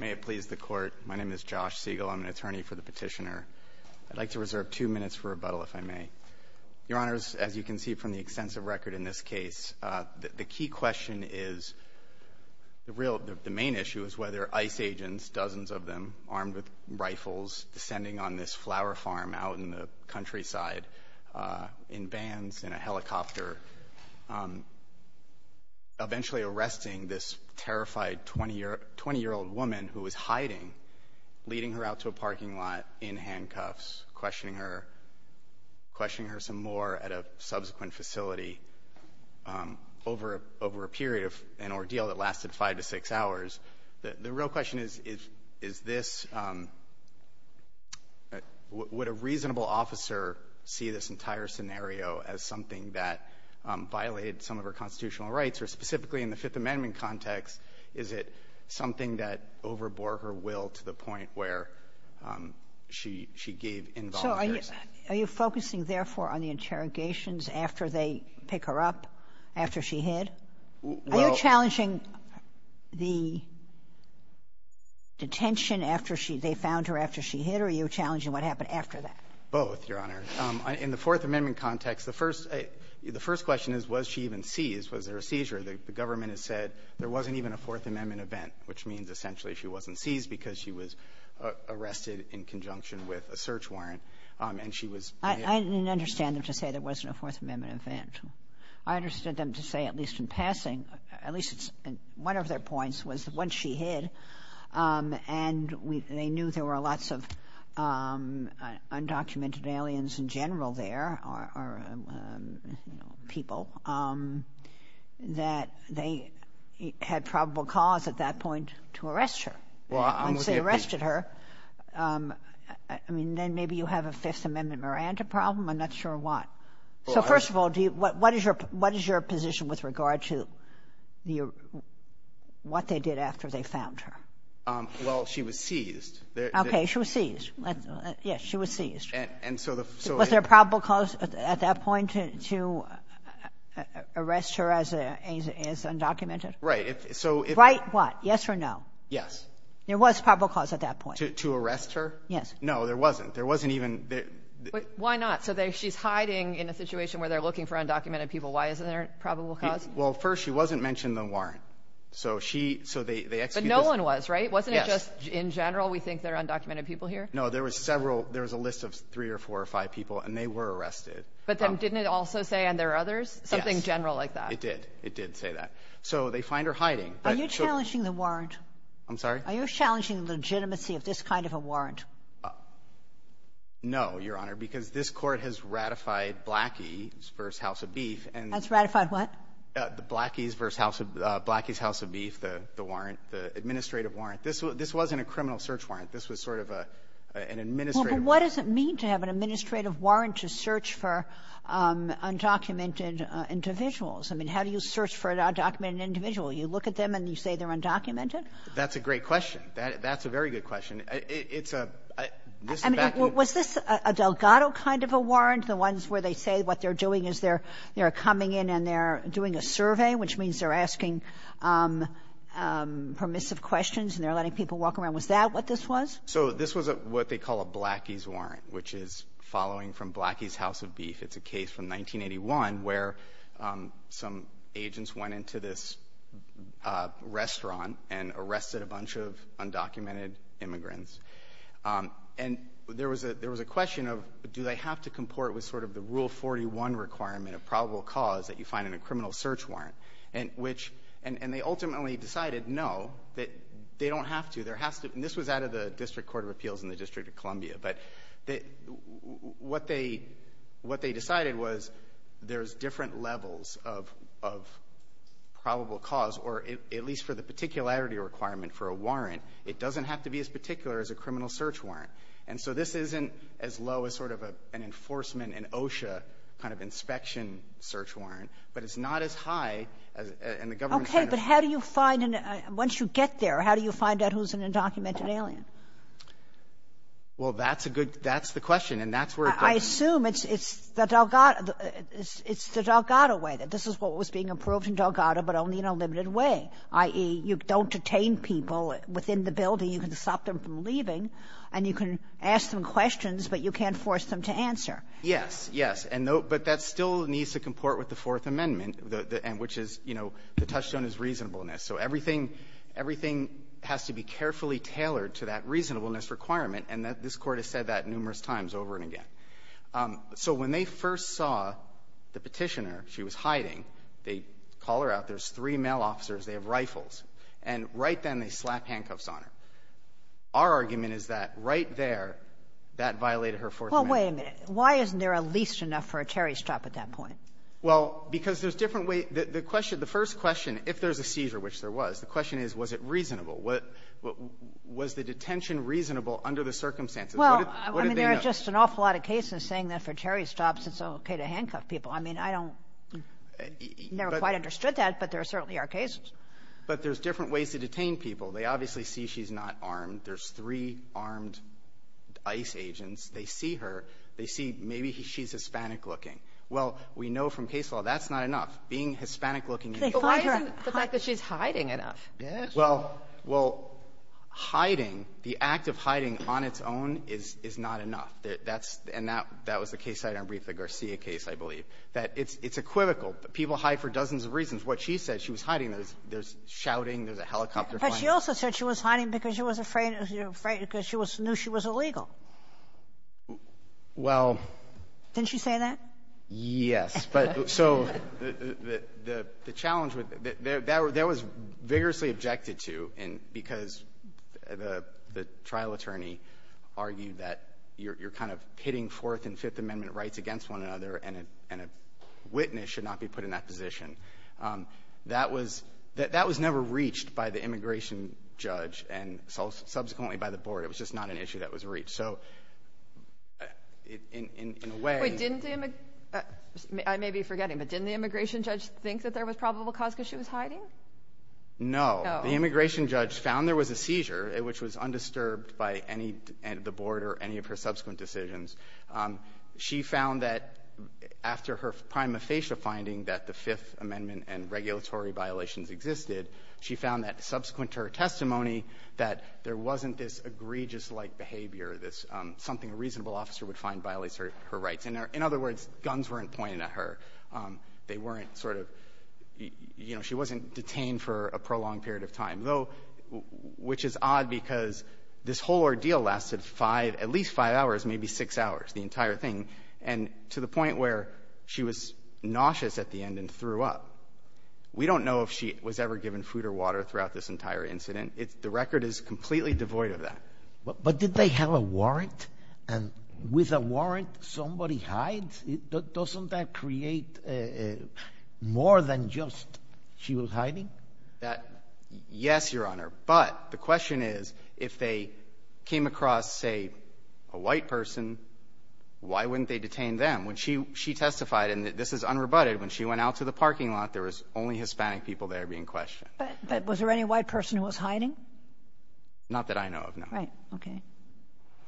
May it please the Court, my name is Josh Siegel. I'm an attorney for the petitioner. I'd like to reserve two minutes for rebuttal, if I may. Your Honors, as you can see from the extensive record in this case, the key question is, the real, the main issue is whether ICE agents, dozens of them, armed with rifles descending on this flower farm out in the countryside in bands, in a 20-year-old woman who was hiding, leading her out to a parking lot in handcuffs, questioning her, questioning her some more at a subsequent facility over a period of an ordeal that lasted five to six hours. The real question is, is this, would a reasonable officer see this entire scenario as something that violated some of her constitutional rights, or specifically in the Fifth Amendment context, is it something that overbore her will to the point where she gave involuntary assistance? So are you focusing, therefore, on the interrogations after they pick her up, after she hid? Well — Are you challenging the detention after she — they found her after she hid, or are you challenging what happened after that? Both, Your Honor. In the Fourth Amendment context, the first — the first question is, was she even seized? Was there a seizure? The government has said there wasn't even a Fourth Amendment event, which means, essentially, she wasn't seized because she was arrested in conjunction with a search warrant, and she was — I didn't understand them to say there wasn't a Fourth Amendment event. I understood them to say, at least in passing — at least one of their points was that once she hid, and they knew there were lots of undocumented aliens in general there, or, you know, people, that they had probable cause at that point to arrest her. Well, I'm looking at the — Once they arrested her, I mean, then maybe you have a Fifth Amendment Miranda problem. I'm not sure what. Well, I — So first of all, do you — what is your — what is your position with regard to the — what they did after they found her? Well, she was seized. Okay. She was seized. Yes. She was seized. And so the — Was there probable cause at that point to arrest her as undocumented? Right. So if — Right what? Yes or no? Yes. There was probable cause at that point. To arrest her? Yes. No, there wasn't. There wasn't even — Why not? So she's hiding in a situation where they're looking for undocumented people. Why isn't there probable cause? Well, first, she wasn't mentioned in the warrant. So she — so they — But no one was, right? Yes. Wasn't it just, in general, we think there are undocumented people here? No. There was several — there was a list of three or four or five people, and they were arrested. But then didn't it also say, and there are others? Yes. Something general like that. It did. It did say that. So they find her hiding. Are you challenging the warrant? I'm sorry? Are you challenging the legitimacy of this kind of a warrant? No, Your Honor, because this Court has ratified Blackie v. House of Beef, and — Has ratified what? The Blackie v. House of — Blackie v. House of Beef, the warrant, the administrative warrant. This wasn't a criminal search warrant. This was sort of an administrative warrant. Well, but what does it mean to have an administrative warrant to search for undocumented individuals? I mean, how do you search for an undocumented individual? You look at them and you say they're undocumented? That's a great question. That's a very good question. It's a — this back — I mean, was this a Delgado kind of a warrant, the ones where they say what they're doing is they're — they're coming in and they're doing a survey, which means they're asking permissive questions and they're letting people walk around? Was that what this was? So this was what they call a Blackie's warrant, which is following from Blackie's House of Beef. It's a case from 1981 where some agents went into this restaurant and arrested a bunch of undocumented immigrants. And there was a — there was a question of do they have to comport with sort of the Rule 41 requirement of probable cause that you find in a criminal search warrant? And which — and they ultimately decided, no, that they don't have to. There has to — and this was out of the District Court of Appeals in the District of Columbia. But what they — what they decided was there is different levels of probable cause, or at least for the particularity requirement for a warrant, it doesn't have to be as particular as a criminal search warrant. And so this isn't as low as sort of an enforcement, an OSHA kind of inspection search warrant, but it's not as high as — and the government's kind of — Okay. But how do you find — once you get there, how do you find out who's an undocumented alien? Well, that's a good — that's the question, and that's where it goes. I assume it's the Delgado — it's the Delgado way, that this is what was being approved in Delgado, but only in a limited way, i.e., you don't detain people within the building. You can stop them from leaving, and you can ask them questions, but you can't force them to answer. Yes. Yes. And no — but that still needs to comport with the Fourth Amendment, which is, you know, the touchstone is reasonableness. So everything — everything has to be carefully tailored to that reasonableness requirement, and this Court has said that numerous times over and again. So when they first saw the Petitioner, she was hiding. They call her out. There's three male officers. They have rifles. And right then, they slap handcuffs on her. Our argument is that right there, that violated her Fourth Amendment. Well, wait a minute. Why isn't there at least enough for a Terry stop at that point? Well, because there's different ways — the question — the first question, if there's a seizure, which there was, the question is, was it reasonable? Was the detention reasonable under the circumstances? What did they know? Well, I mean, there are just an awful lot of cases saying that for Terry stops, it's okay to handcuff people. I mean, I don't — never quite understood that, but there certainly are cases. But there's different ways to detain people. They obviously see she's not armed. There's three armed ICE agents. They see her. They see maybe she's Hispanic-looking. Well, we know from case law that's not enough. Being Hispanic-looking — But why isn't the fact that she's hiding enough? Well, hiding, the act of hiding on its own is not enough. That's — and that was the case I had on the Garcia case, I believe, that it's equivocal. People hide for dozens of reasons. What she said, she was hiding. There's shouting. There's a helicopter flying. But she also said she was hiding because she was afraid — because she knew she was illegal. Well — Didn't she say that? Yes. But so the challenge with — that was vigorously objected to because the trial attorney argued that you're kind of pitting Fourth and Fifth Amendment rights against one another, and a witness should not be put in that position. That was — that was never reached by the immigration judge and subsequently by the board. It was just not an issue that was reached. So in a way — Wait, didn't the — I may be forgetting, but didn't the immigration judge think that there was probable cause because she was hiding? No. The immigration judge found there was a seizure, which was undisturbed by any — the board or any of her subsequent decisions. She found that after her prima facie finding that the Fifth Amendment and regulatory violations existed, she found that, subsequent to her testimony, that there wasn't this egregious-like behavior, this — something a reasonable officer would find violates her rights. In other words, guns weren't pointed at her. They weren't sort of — you know, she wasn't detained for a prolonged period of time. Though — which is odd because this whole ordeal lasted five — at least five hours, maybe six hours, the entire thing, and to the point where she was nauseous at the end and threw up. We don't know if she was ever given food or water throughout this entire incident. It's — the record is completely devoid of that. But did they have a warrant? And with a warrant, somebody hides? Doesn't that create more than just she was hiding? That — yes, Your Honor. But the question is, if they came across, say, a white person, why wouldn't they detain them? When she — she testified, and this is unrebutted, when she went out to the parking lot, there was only Hispanic people there being questioned. But was there any white person who was hiding? Not that I know of, no. Right. Okay.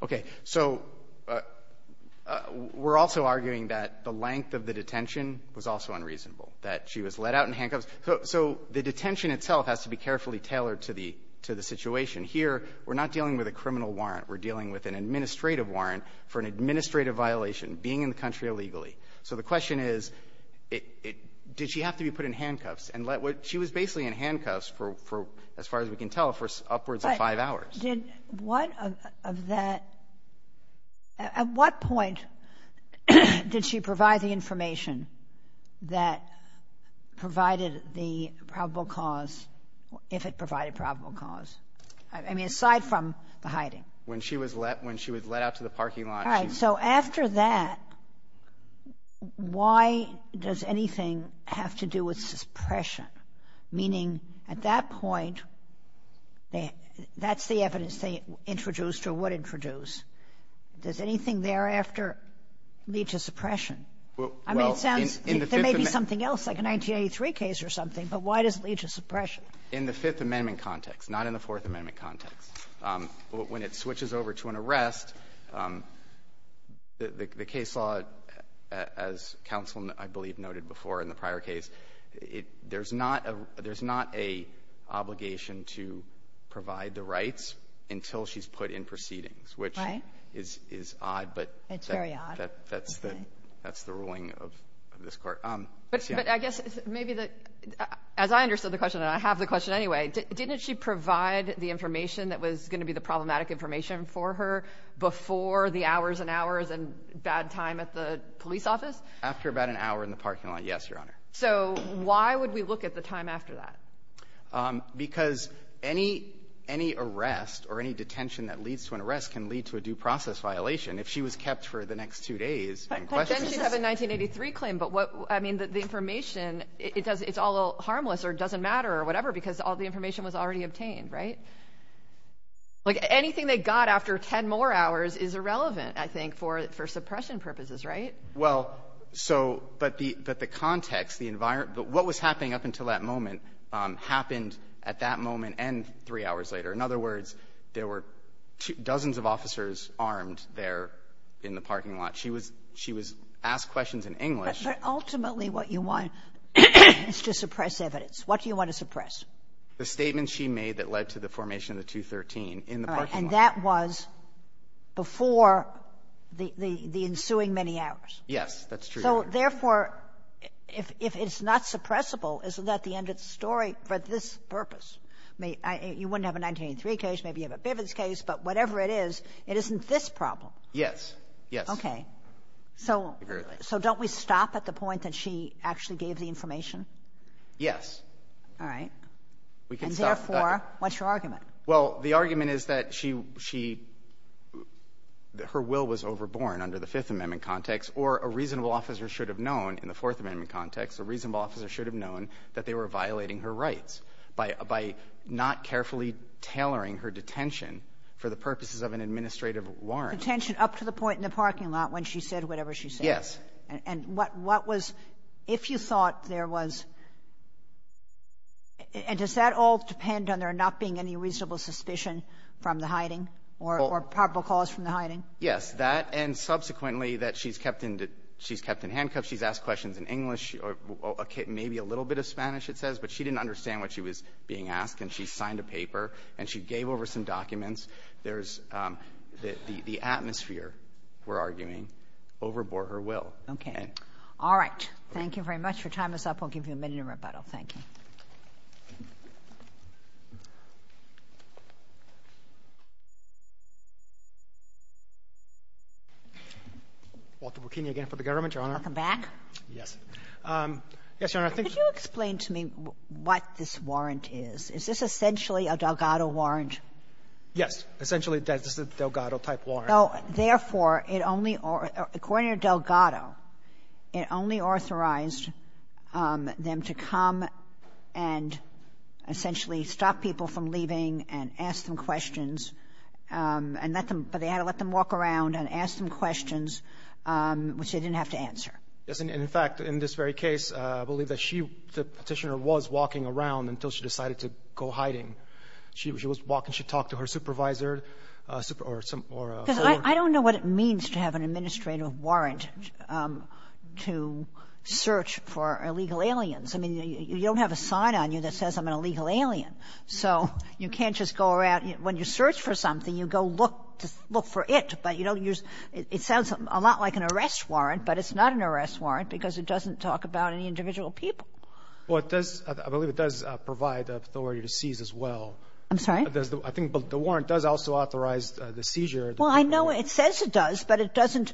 Okay. So we're also arguing that the length of the detention was also unreasonable, that she was let out in handcuffs. So the detention itself has to be carefully tailored to the — to the situation. Here, we're not dealing with a criminal warrant. We're dealing with an administrative warrant for an administrative violation, being in the country illegally. So the question is, did she have to be put in handcuffs and let — she was basically in handcuffs for, as far as we can tell, for upwards of five hours. Did — what of that — at what point did she provide the information that provided the probable cause, if it provided probable cause? I mean, aside from the hiding. When she was let — when she was let out to the parking lot, she — All right. So after that, why does anything have to do with suppression? Meaning, at that point, that's the evidence they introduced or would introduce. Does anything thereafter lead to suppression? Well, in the Fifth Amendment — I mean, it sounds — there may be something else, like a 1983 case or something, but why does it lead to suppression? In the Fifth Amendment context, not in the Fourth Amendment context. When it switches over to an arrest, the case law, as counsel, I believe, noted before in the prior case, it — there's not a — there's not a obligation to provide the rights until she's put in proceedings, which is odd, but — It's very odd. That's the — that's the ruling of this Court. But I guess maybe the — as I understood the question, and I have the question anyway, didn't she provide the information that was going to be the problematic information for her before the hours and hours and bad time at the police office? After about an hour in the parking lot, yes, Your Honor. So why would we look at the time after that? Because any — any arrest or any detention that leads to an arrest can lead to a due process violation. If she was kept for the next two days and questions — But then she'd have a 1983 claim. But what — I mean, the information, it's all harmless or doesn't matter or whatever because all the information was already obtained, right? Like, anything they got after 10 more hours is irrelevant, I think, for suppression purposes, right? Well, so — but the context, the environment — what was happening up until that moment happened at that moment and three hours later. In other words, there were dozens of officers armed there in the parking lot. She was — she was asked questions in English. But ultimately, what you want is to suppress evidence. What do you want to suppress? The statement she made that led to the formation of the 213 in the parking lot. And that was before the — the ensuing many hours. Yes, that's true. So, therefore, if it's not suppressible, isn't that the end of the story for this purpose? I mean, you wouldn't have a 1983 case. Maybe you have a Bivens case. But whatever it is, it isn't this problem. Yes. Yes. Okay. So — so don't we stop at the point that she actually gave the information? Yes. All right. We can stop. And, therefore, what's your argument? Well, the argument is that she — she — her will was overborn under the Fifth Amendment context, or a reasonable officer should have known in the Fourth Amendment context, a reasonable officer should have known that they were violating her rights by — by not carefully tailoring her detention for the purposes of an administrative warrant. Detention up to the point in the parking lot when she said whatever she said? Yes. And what — what was — if you thought there was — and does that all depend on there not being any reasonable suspicion from the hiding or — or probable cause from the hiding? Yes. That and, subsequently, that she's kept in — she's kept in handcuffs. She's asked questions in English or maybe a little bit of Spanish, it says. But she didn't understand what she was being asked. And she signed a paper. And she gave over some documents. There's — the — the atmosphere, we're arguing, overbore her will. Okay. All right. Thank you very much. Your time is up. We'll give you a minute of rebuttal. Thank you. Walter Burkini again for the government, Your Honor. Welcome back. Yes. Yes, Your Honor, I think — Could you explain to me what this warrant is? Is this essentially a Delgado warrant? Yes. Essentially, this is a Delgado-type warrant. Therefore, it only — according to Delgado, it only authorized them to come and essentially stop people from leaving and ask them questions and let them — but they had to let them walk around and ask them questions, which they didn't have to answer. Yes. And, in fact, in this very case, I believe that she, the Petitioner, was walking around until she decided to go hiding. She was walking. She talked to her supervisor or some — or a former — Because I don't know what it means to have an administrative warrant to search for illegal aliens. I mean, you don't have a sign on you that says, I'm an illegal alien. So you can't just go around — when you search for something, you go look for it. But you don't use — it sounds a lot like an arrest warrant, but it's not an arrest warrant because it doesn't talk about any individual people. Well, it does — I believe it does provide the authority to seize as well. I'm sorry? I think the warrant does also authorize the seizure. Well, I know it says it does, but it doesn't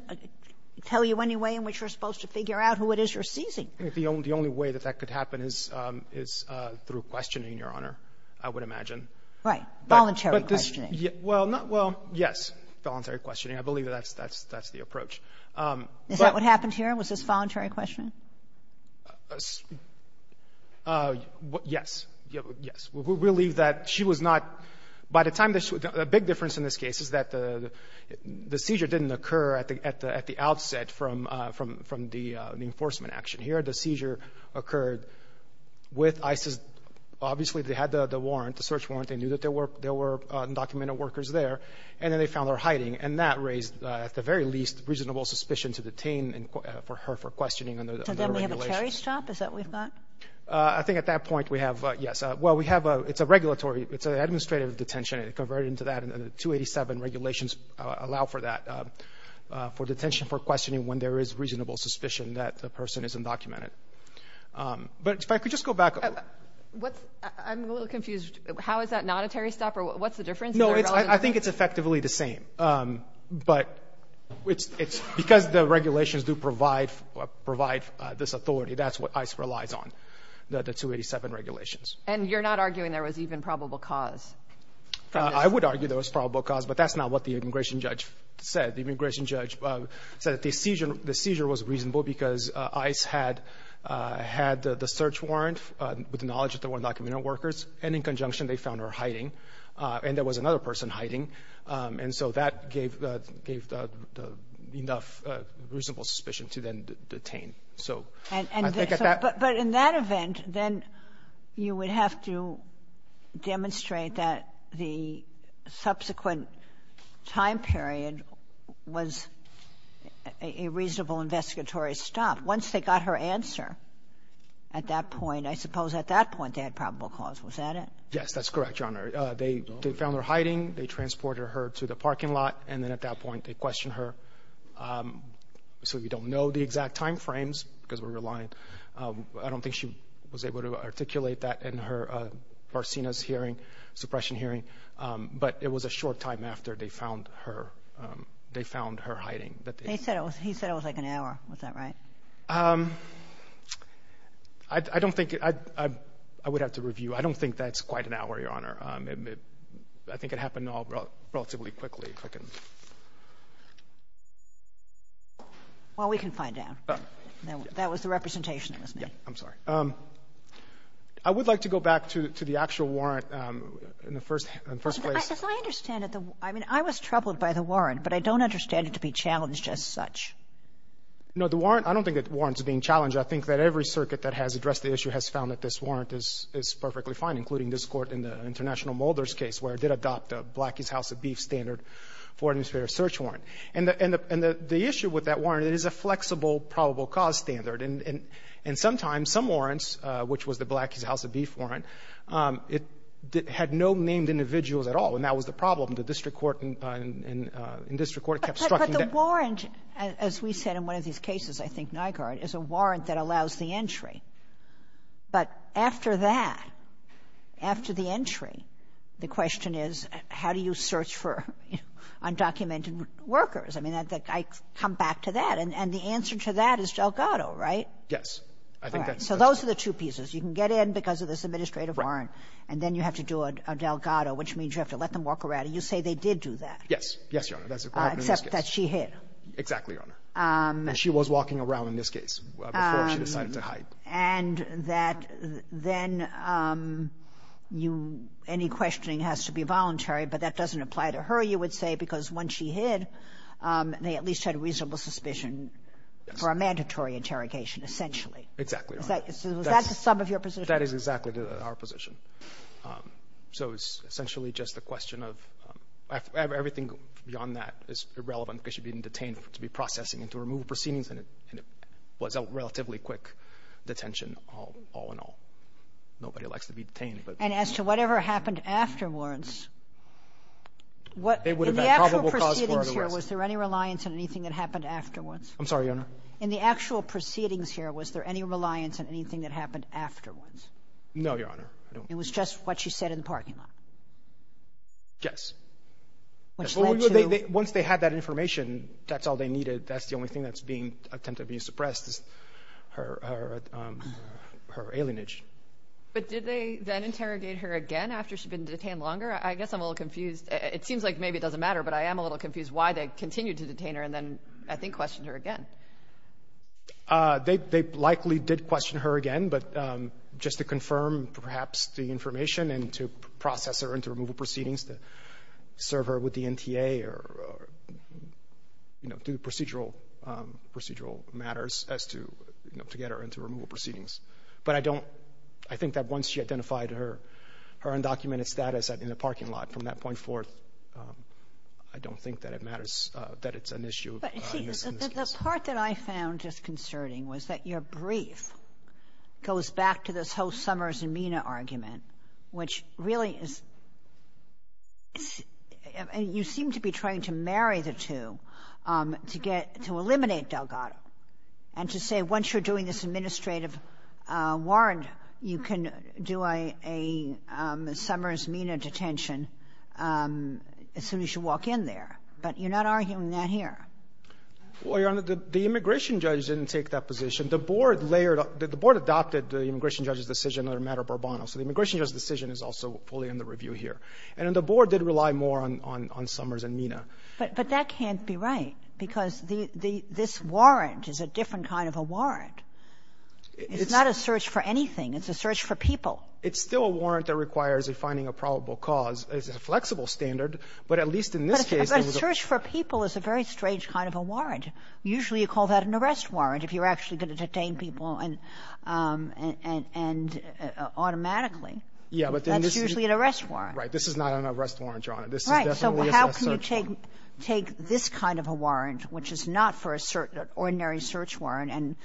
tell you any way in which you're supposed to figure out who it is you're seizing. The only way that that could happen is through questioning, Your Honor, I would imagine. Right. Voluntary questioning. Well, not — well, yes. Voluntary questioning. I believe that's the approach. Is that what happened here? Was this voluntary questioning? Yes. Yes. We believe that she was not — by the time — the big difference in this case is that the seizure didn't occur at the outset from the enforcement action. Here, the seizure occurred with ISIS. Obviously, they had the warrant, the search warrant. They knew that there were undocumented workers there, and then they found her hiding, and that raised, at the very least, reasonable suspicion to detain her for questioning under the regulations. So then we have a cherry-strap, is that what we've got? I think at that point, we have — yes. Well, we have a — it's a regulatory — it's an administrative detention. It converted into that, and the 287 regulations allow for that, for detention for questioning when there is reasonable suspicion that the person is undocumented. But if I could just go back — What's — I'm a little confused. How is that not a cherry-stopper? What's the difference? No, it's — I think it's effectively the same. But it's — because the regulations do provide — provide this authority, that's what ISIS relies on, the 287 regulations. And you're not arguing there was even probable cause? I would argue there was probable cause, but that's not what the immigration judge said. The immigration judge said that the seizure — the seizure was reasonable because ICE had — had the search warrant with the knowledge that there were undocumented workers, and in conjunction, they found her hiding, and there was another person hiding. And so that gave — gave enough reasonable suspicion to then detain. So I think at that — You would have to demonstrate that the subsequent time period was a reasonable investigatory stop. Once they got her answer at that point, I suppose at that point they had probable cause. Was that it? Yes, that's correct, Your Honor. They found her hiding. They transported her to the parking lot. And then at that point, they questioned her. So we don't know the exact time frames because we're reliant. I don't think she was able to articulate that in her Barcenas hearing, suppression hearing, but it was a short time after they found her — they found her hiding that they — They said it was — he said it was like an hour. Was that right? I don't think — I would have to review. I don't think that's quite an hour, Your Honor. I think it happened all relatively quickly, if I can — Well, we can find out. That was the representation that was made. I'm sorry. I would like to go back to the actual warrant in the first — in the first place. As I understand it, the — I mean, I was troubled by the warrant, but I don't understand it to be challenged as such. No, the warrant — I don't think that the warrant is being challenged. I think that every circuit that has addressed the issue has found that this warrant is perfectly fine, including this Court in the International Mulder's case, where And the — and the issue with that warrant, it is a flexible probable cause standard. And sometimes, some warrants, which was the Blackie's House of Beef warrant, it had no named individuals at all. And that was the problem. The district court and — in district court kept — But the warrant, as we said in one of these cases, I think, Nygaard, is a warrant that allows the entry. But after that, after the entry, the question is, how do you search for undocumented workers? I mean, I come back to that. And the answer to that is Delgado, right? Yes. I think that's — So those are the two pieces. You can get in because of this administrative warrant, and then you have to do a Delgado, which means you have to let them walk around. And you say they did do that. Yes. Yes, Your Honor. That's what happened in this case. Except that she hid. Exactly, Your Honor. And she was walking around in this case before she decided to hide. And that then you — any questioning has to be voluntary, but that doesn't apply to her, you would say, because when she hid, they at least had a reasonable suspicion for a mandatory interrogation, essentially. Exactly, Your Honor. Is that — was that the sum of your position? That is exactly our position. So it's essentially just a question of — everything beyond that is irrelevant because she'd been detained to be processing and to remove proceedings, and it was a relatively quick detention all in all. Nobody likes to be detained, but — And as to whatever happened afterwards, what — They would have had probable cause for our arrest. In the actual proceedings here, was there any reliance on anything that happened afterwards? I'm sorry, Your Honor. In the actual proceedings here, was there any reliance on anything that happened afterwards? No, Your Honor. It was just what she said in the parking lot? Yes. Which led to — Once they had that information, that's all they needed. That's the only thing that's being — attempted to be suppressed is her alienage. But did they then interrogate her again after she'd been detained longer? I guess I'm a little confused. It seems like maybe it doesn't matter, but I am a little confused why they continued to detain her and then, I think, questioned her again. They likely did question her again, but just to confirm perhaps the information and to process her into removal proceedings, to serve her with the NTA or, you know, do procedural matters as to, you know, to get her into removal proceedings. But I don't — I think that once she identified her undocumented status in the parking lot, from that point forth, I don't think that it matters, that it's an issue of misconduct. The part that I found disconcerting was that your brief goes back to this whole Summers and Mina argument, which really is — you seem to be trying to marry the two to get — to eliminate Delgado and to say once you're doing this administrative warrant, you can do a — a Summers-Mina detention as soon as you walk in there. But you're not arguing that here. Well, Your Honor, the immigration judge didn't take that position. The board layered — the board adopted the immigration judge's decision on the matter of Borbono, so the immigration judge's decision is also fully under review here. But that can't be right, because the — this warrant is a different kind of a warrant. It's not a search for anything. It's a search for people. It's still a warrant that requires a finding of probable cause. It's a flexible standard, but at least in this case, it was a — But a search for people is a very strange kind of a warrant. Usually, you call that an arrest warrant if you're actually going to detain people and — and — and automatically. Yeah, but then this — That's usually an arrest warrant. Right. This is not an arrest warrant, Your Honor. This is definitely a search warrant. So how can you take — take this kind of a warrant, which is not for a search — an ordinary search warrant, and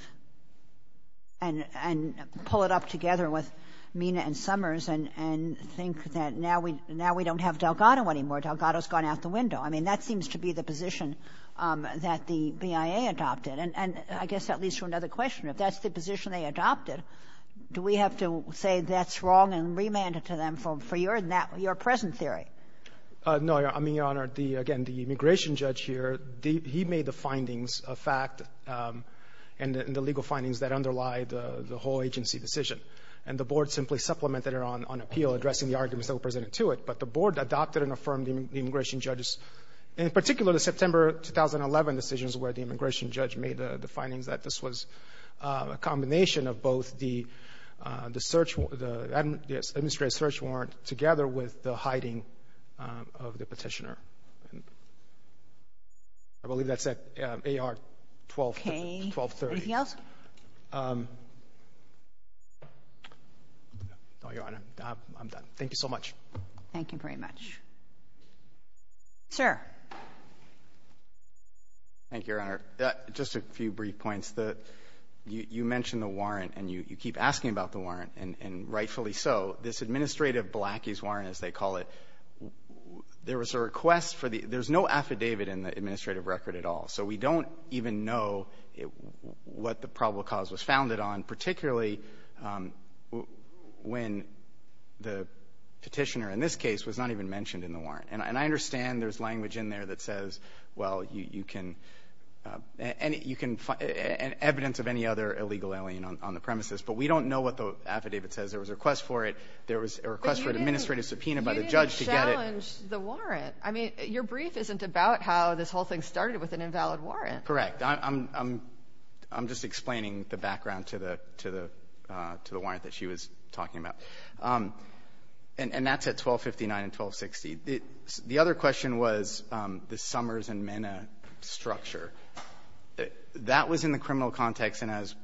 — and — and pull it up together with Mina and Summers and — and think that now we — now we don't have Delgado anymore. Delgado's gone out the window. I mean, that seems to be the position that the BIA adopted. And — and I guess that leads to another question. If that's the position they adopted, do we have to say that's wrong and remand it to them for — for your — your present theory? No, Your Honor. I mean, Your Honor, the — again, the immigration judge here, he made the findings of fact and the legal findings that underlie the — the whole agency decision. And the board simply supplemented it on — on appeal, addressing the arguments that were presented to it. But the board adopted and affirmed the immigration judge's — in particular, the September 2011 decisions where the immigration judge made the — the findings that this was a combination of both the — the search — the administrative and the search warrant together with the hiding of the petitioner. And I believe that's at AR-1230. Okay. Anything else? No, Your Honor. I'm done. Thank you so much. Thank you very much. Sir. Thank you, Your Honor. Just a few brief points. The — you mentioned the warrant, and you — you keep asking about the warrant, and rightfully so. This administrative blackies warrant, as they call it, there was a request for the — there's no affidavit in the administrative record at all. So we don't even know what the probable cause was founded on, particularly when the petitioner, in this case, was not even mentioned in the warrant. And I understand there's language in there that says, well, you can — and you can — and evidence of any other illegal alien on the premises. But we don't know what the affidavit says. There was a request for it. There was a request for an administrative subpoena by the judge to get it. But you didn't challenge the warrant. I mean, your brief isn't about how this whole thing started with an invalid warrant. Correct. I'm — I'm just explaining the background to the — to the — to the warrant that she was talking about. And that's at AR-1259 and AR-1260. The other question was the Summers and Minna structure. That was in the criminal context. And as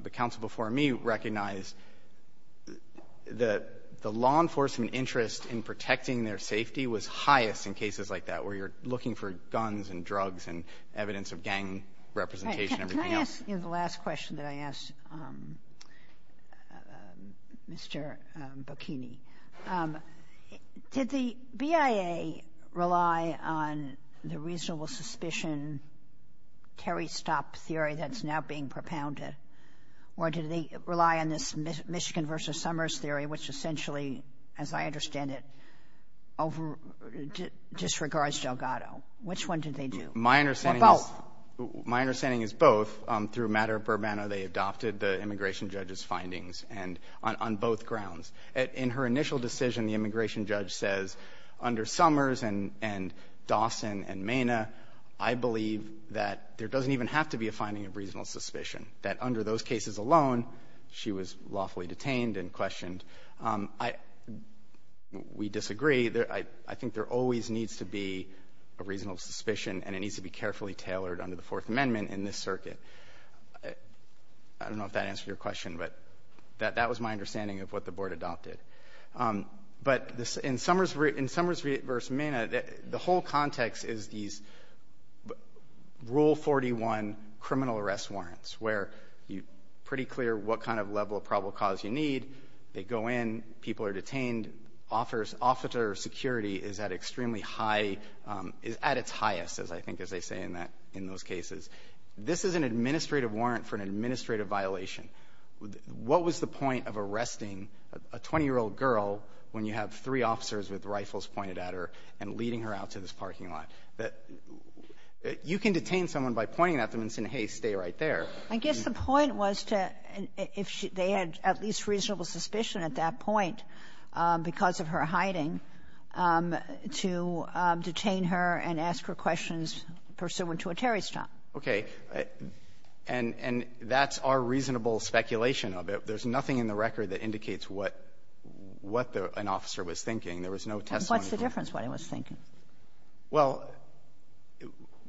the counsel before me recognized, the law enforcement interest in protecting their safety was highest in cases like that, where you're looking for guns and drugs and evidence of gang representation and everything else. Can I ask the last question that I asked Mr. Bocchini? Did the BIA rely on the reasonable suspicion Terry Stopp theory that's now being propounded, or did they rely on this Michigan v. Summers theory, which essentially, as I understand it, over — disregards Delgado? Which one did they do? Or both? My understanding is — my understanding is both. Through matter of Burbano, they adopted the immigration judge's findings, and — on both grounds. In her initial decision, the immigration judge says, under Summers and Dawson and Minna, I believe that there doesn't even have to be a finding of reasonable suspicion, that under those cases alone, she was lawfully detained and questioned. We disagree. I think there always needs to be a reasonable suspicion, and it needs to be carefully tailored under the Fourth Amendment in this circuit. I don't know if that answered your question, but that was my understanding of what the judge adopted. But in Summers v. Minna, the whole context is these Rule 41 criminal arrest warrants, where you're pretty clear what kind of level of probable cause you need. They go in, people are detained, officer security is at extremely high — is at its highest, I think, as they say in that — in those cases. This is an administrative warrant for an administrative violation. What was the point of arresting a 20-year-old girl when you have three officers with rifles pointed at her and leading her out to this parking lot? You can detain someone by pointing at them and saying, hey, stay right there. I guess the point was to — if they had at least reasonable suspicion at that point because of her hiding, to detain her and ask her questions pursuant to a Terry stop. Okay. And that's our reasonable speculation of it. There's nothing in the record that indicates what an officer was thinking. There was no testimony from — What's the difference what he was thinking? Well,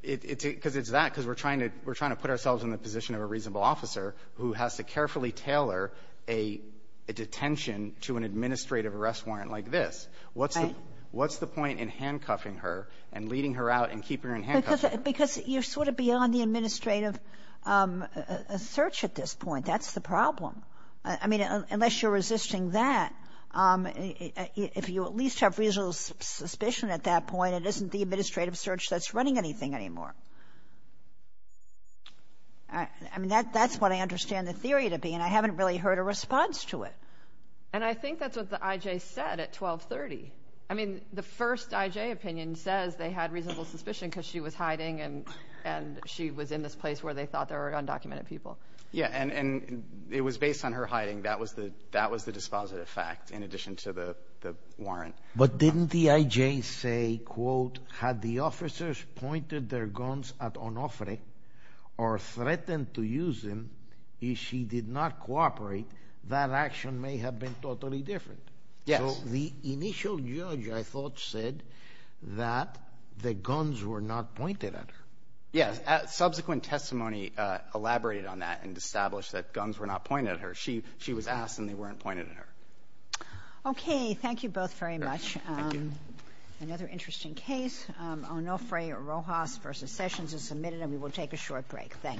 it's because it's that, because we're trying to put ourselves in the position of a reasonable officer who has to carefully tailor a detention to an administrative arrest warrant like this. Right. What's the point in handcuffing her and leading her out and keeping her in handcuffs? Because you're sort of beyond the administrative search at this point. That's the problem. I mean, unless you're resisting that, if you at least have reasonable suspicion at that point, it isn't the administrative search that's running anything anymore. I mean, that's what I understand the theory to be, and I haven't really heard a response to it. And I think that's what the I.J. said at 1230. I mean, the first I.J. opinion says they had reasonable suspicion because she was hiding and she was in this place where they thought there were undocumented people. Yeah, and it was based on her hiding. That was the dispositive fact in addition to the warrant. But didn't the I.J. say, quote, Had the officers pointed their guns at Onofre or threatened to use them, if she did not cooperate, that action may have been totally different. Yes. So the initial judge, I thought, said that the guns were not pointed at her. Yes. Subsequent testimony elaborated on that and established that guns were not pointed at her. She was asked and they weren't pointed at her. Okay. Thank you both very much. Another interesting case. Onofre Rojas v. Sessions is submitted and we will take a short break. Thank you.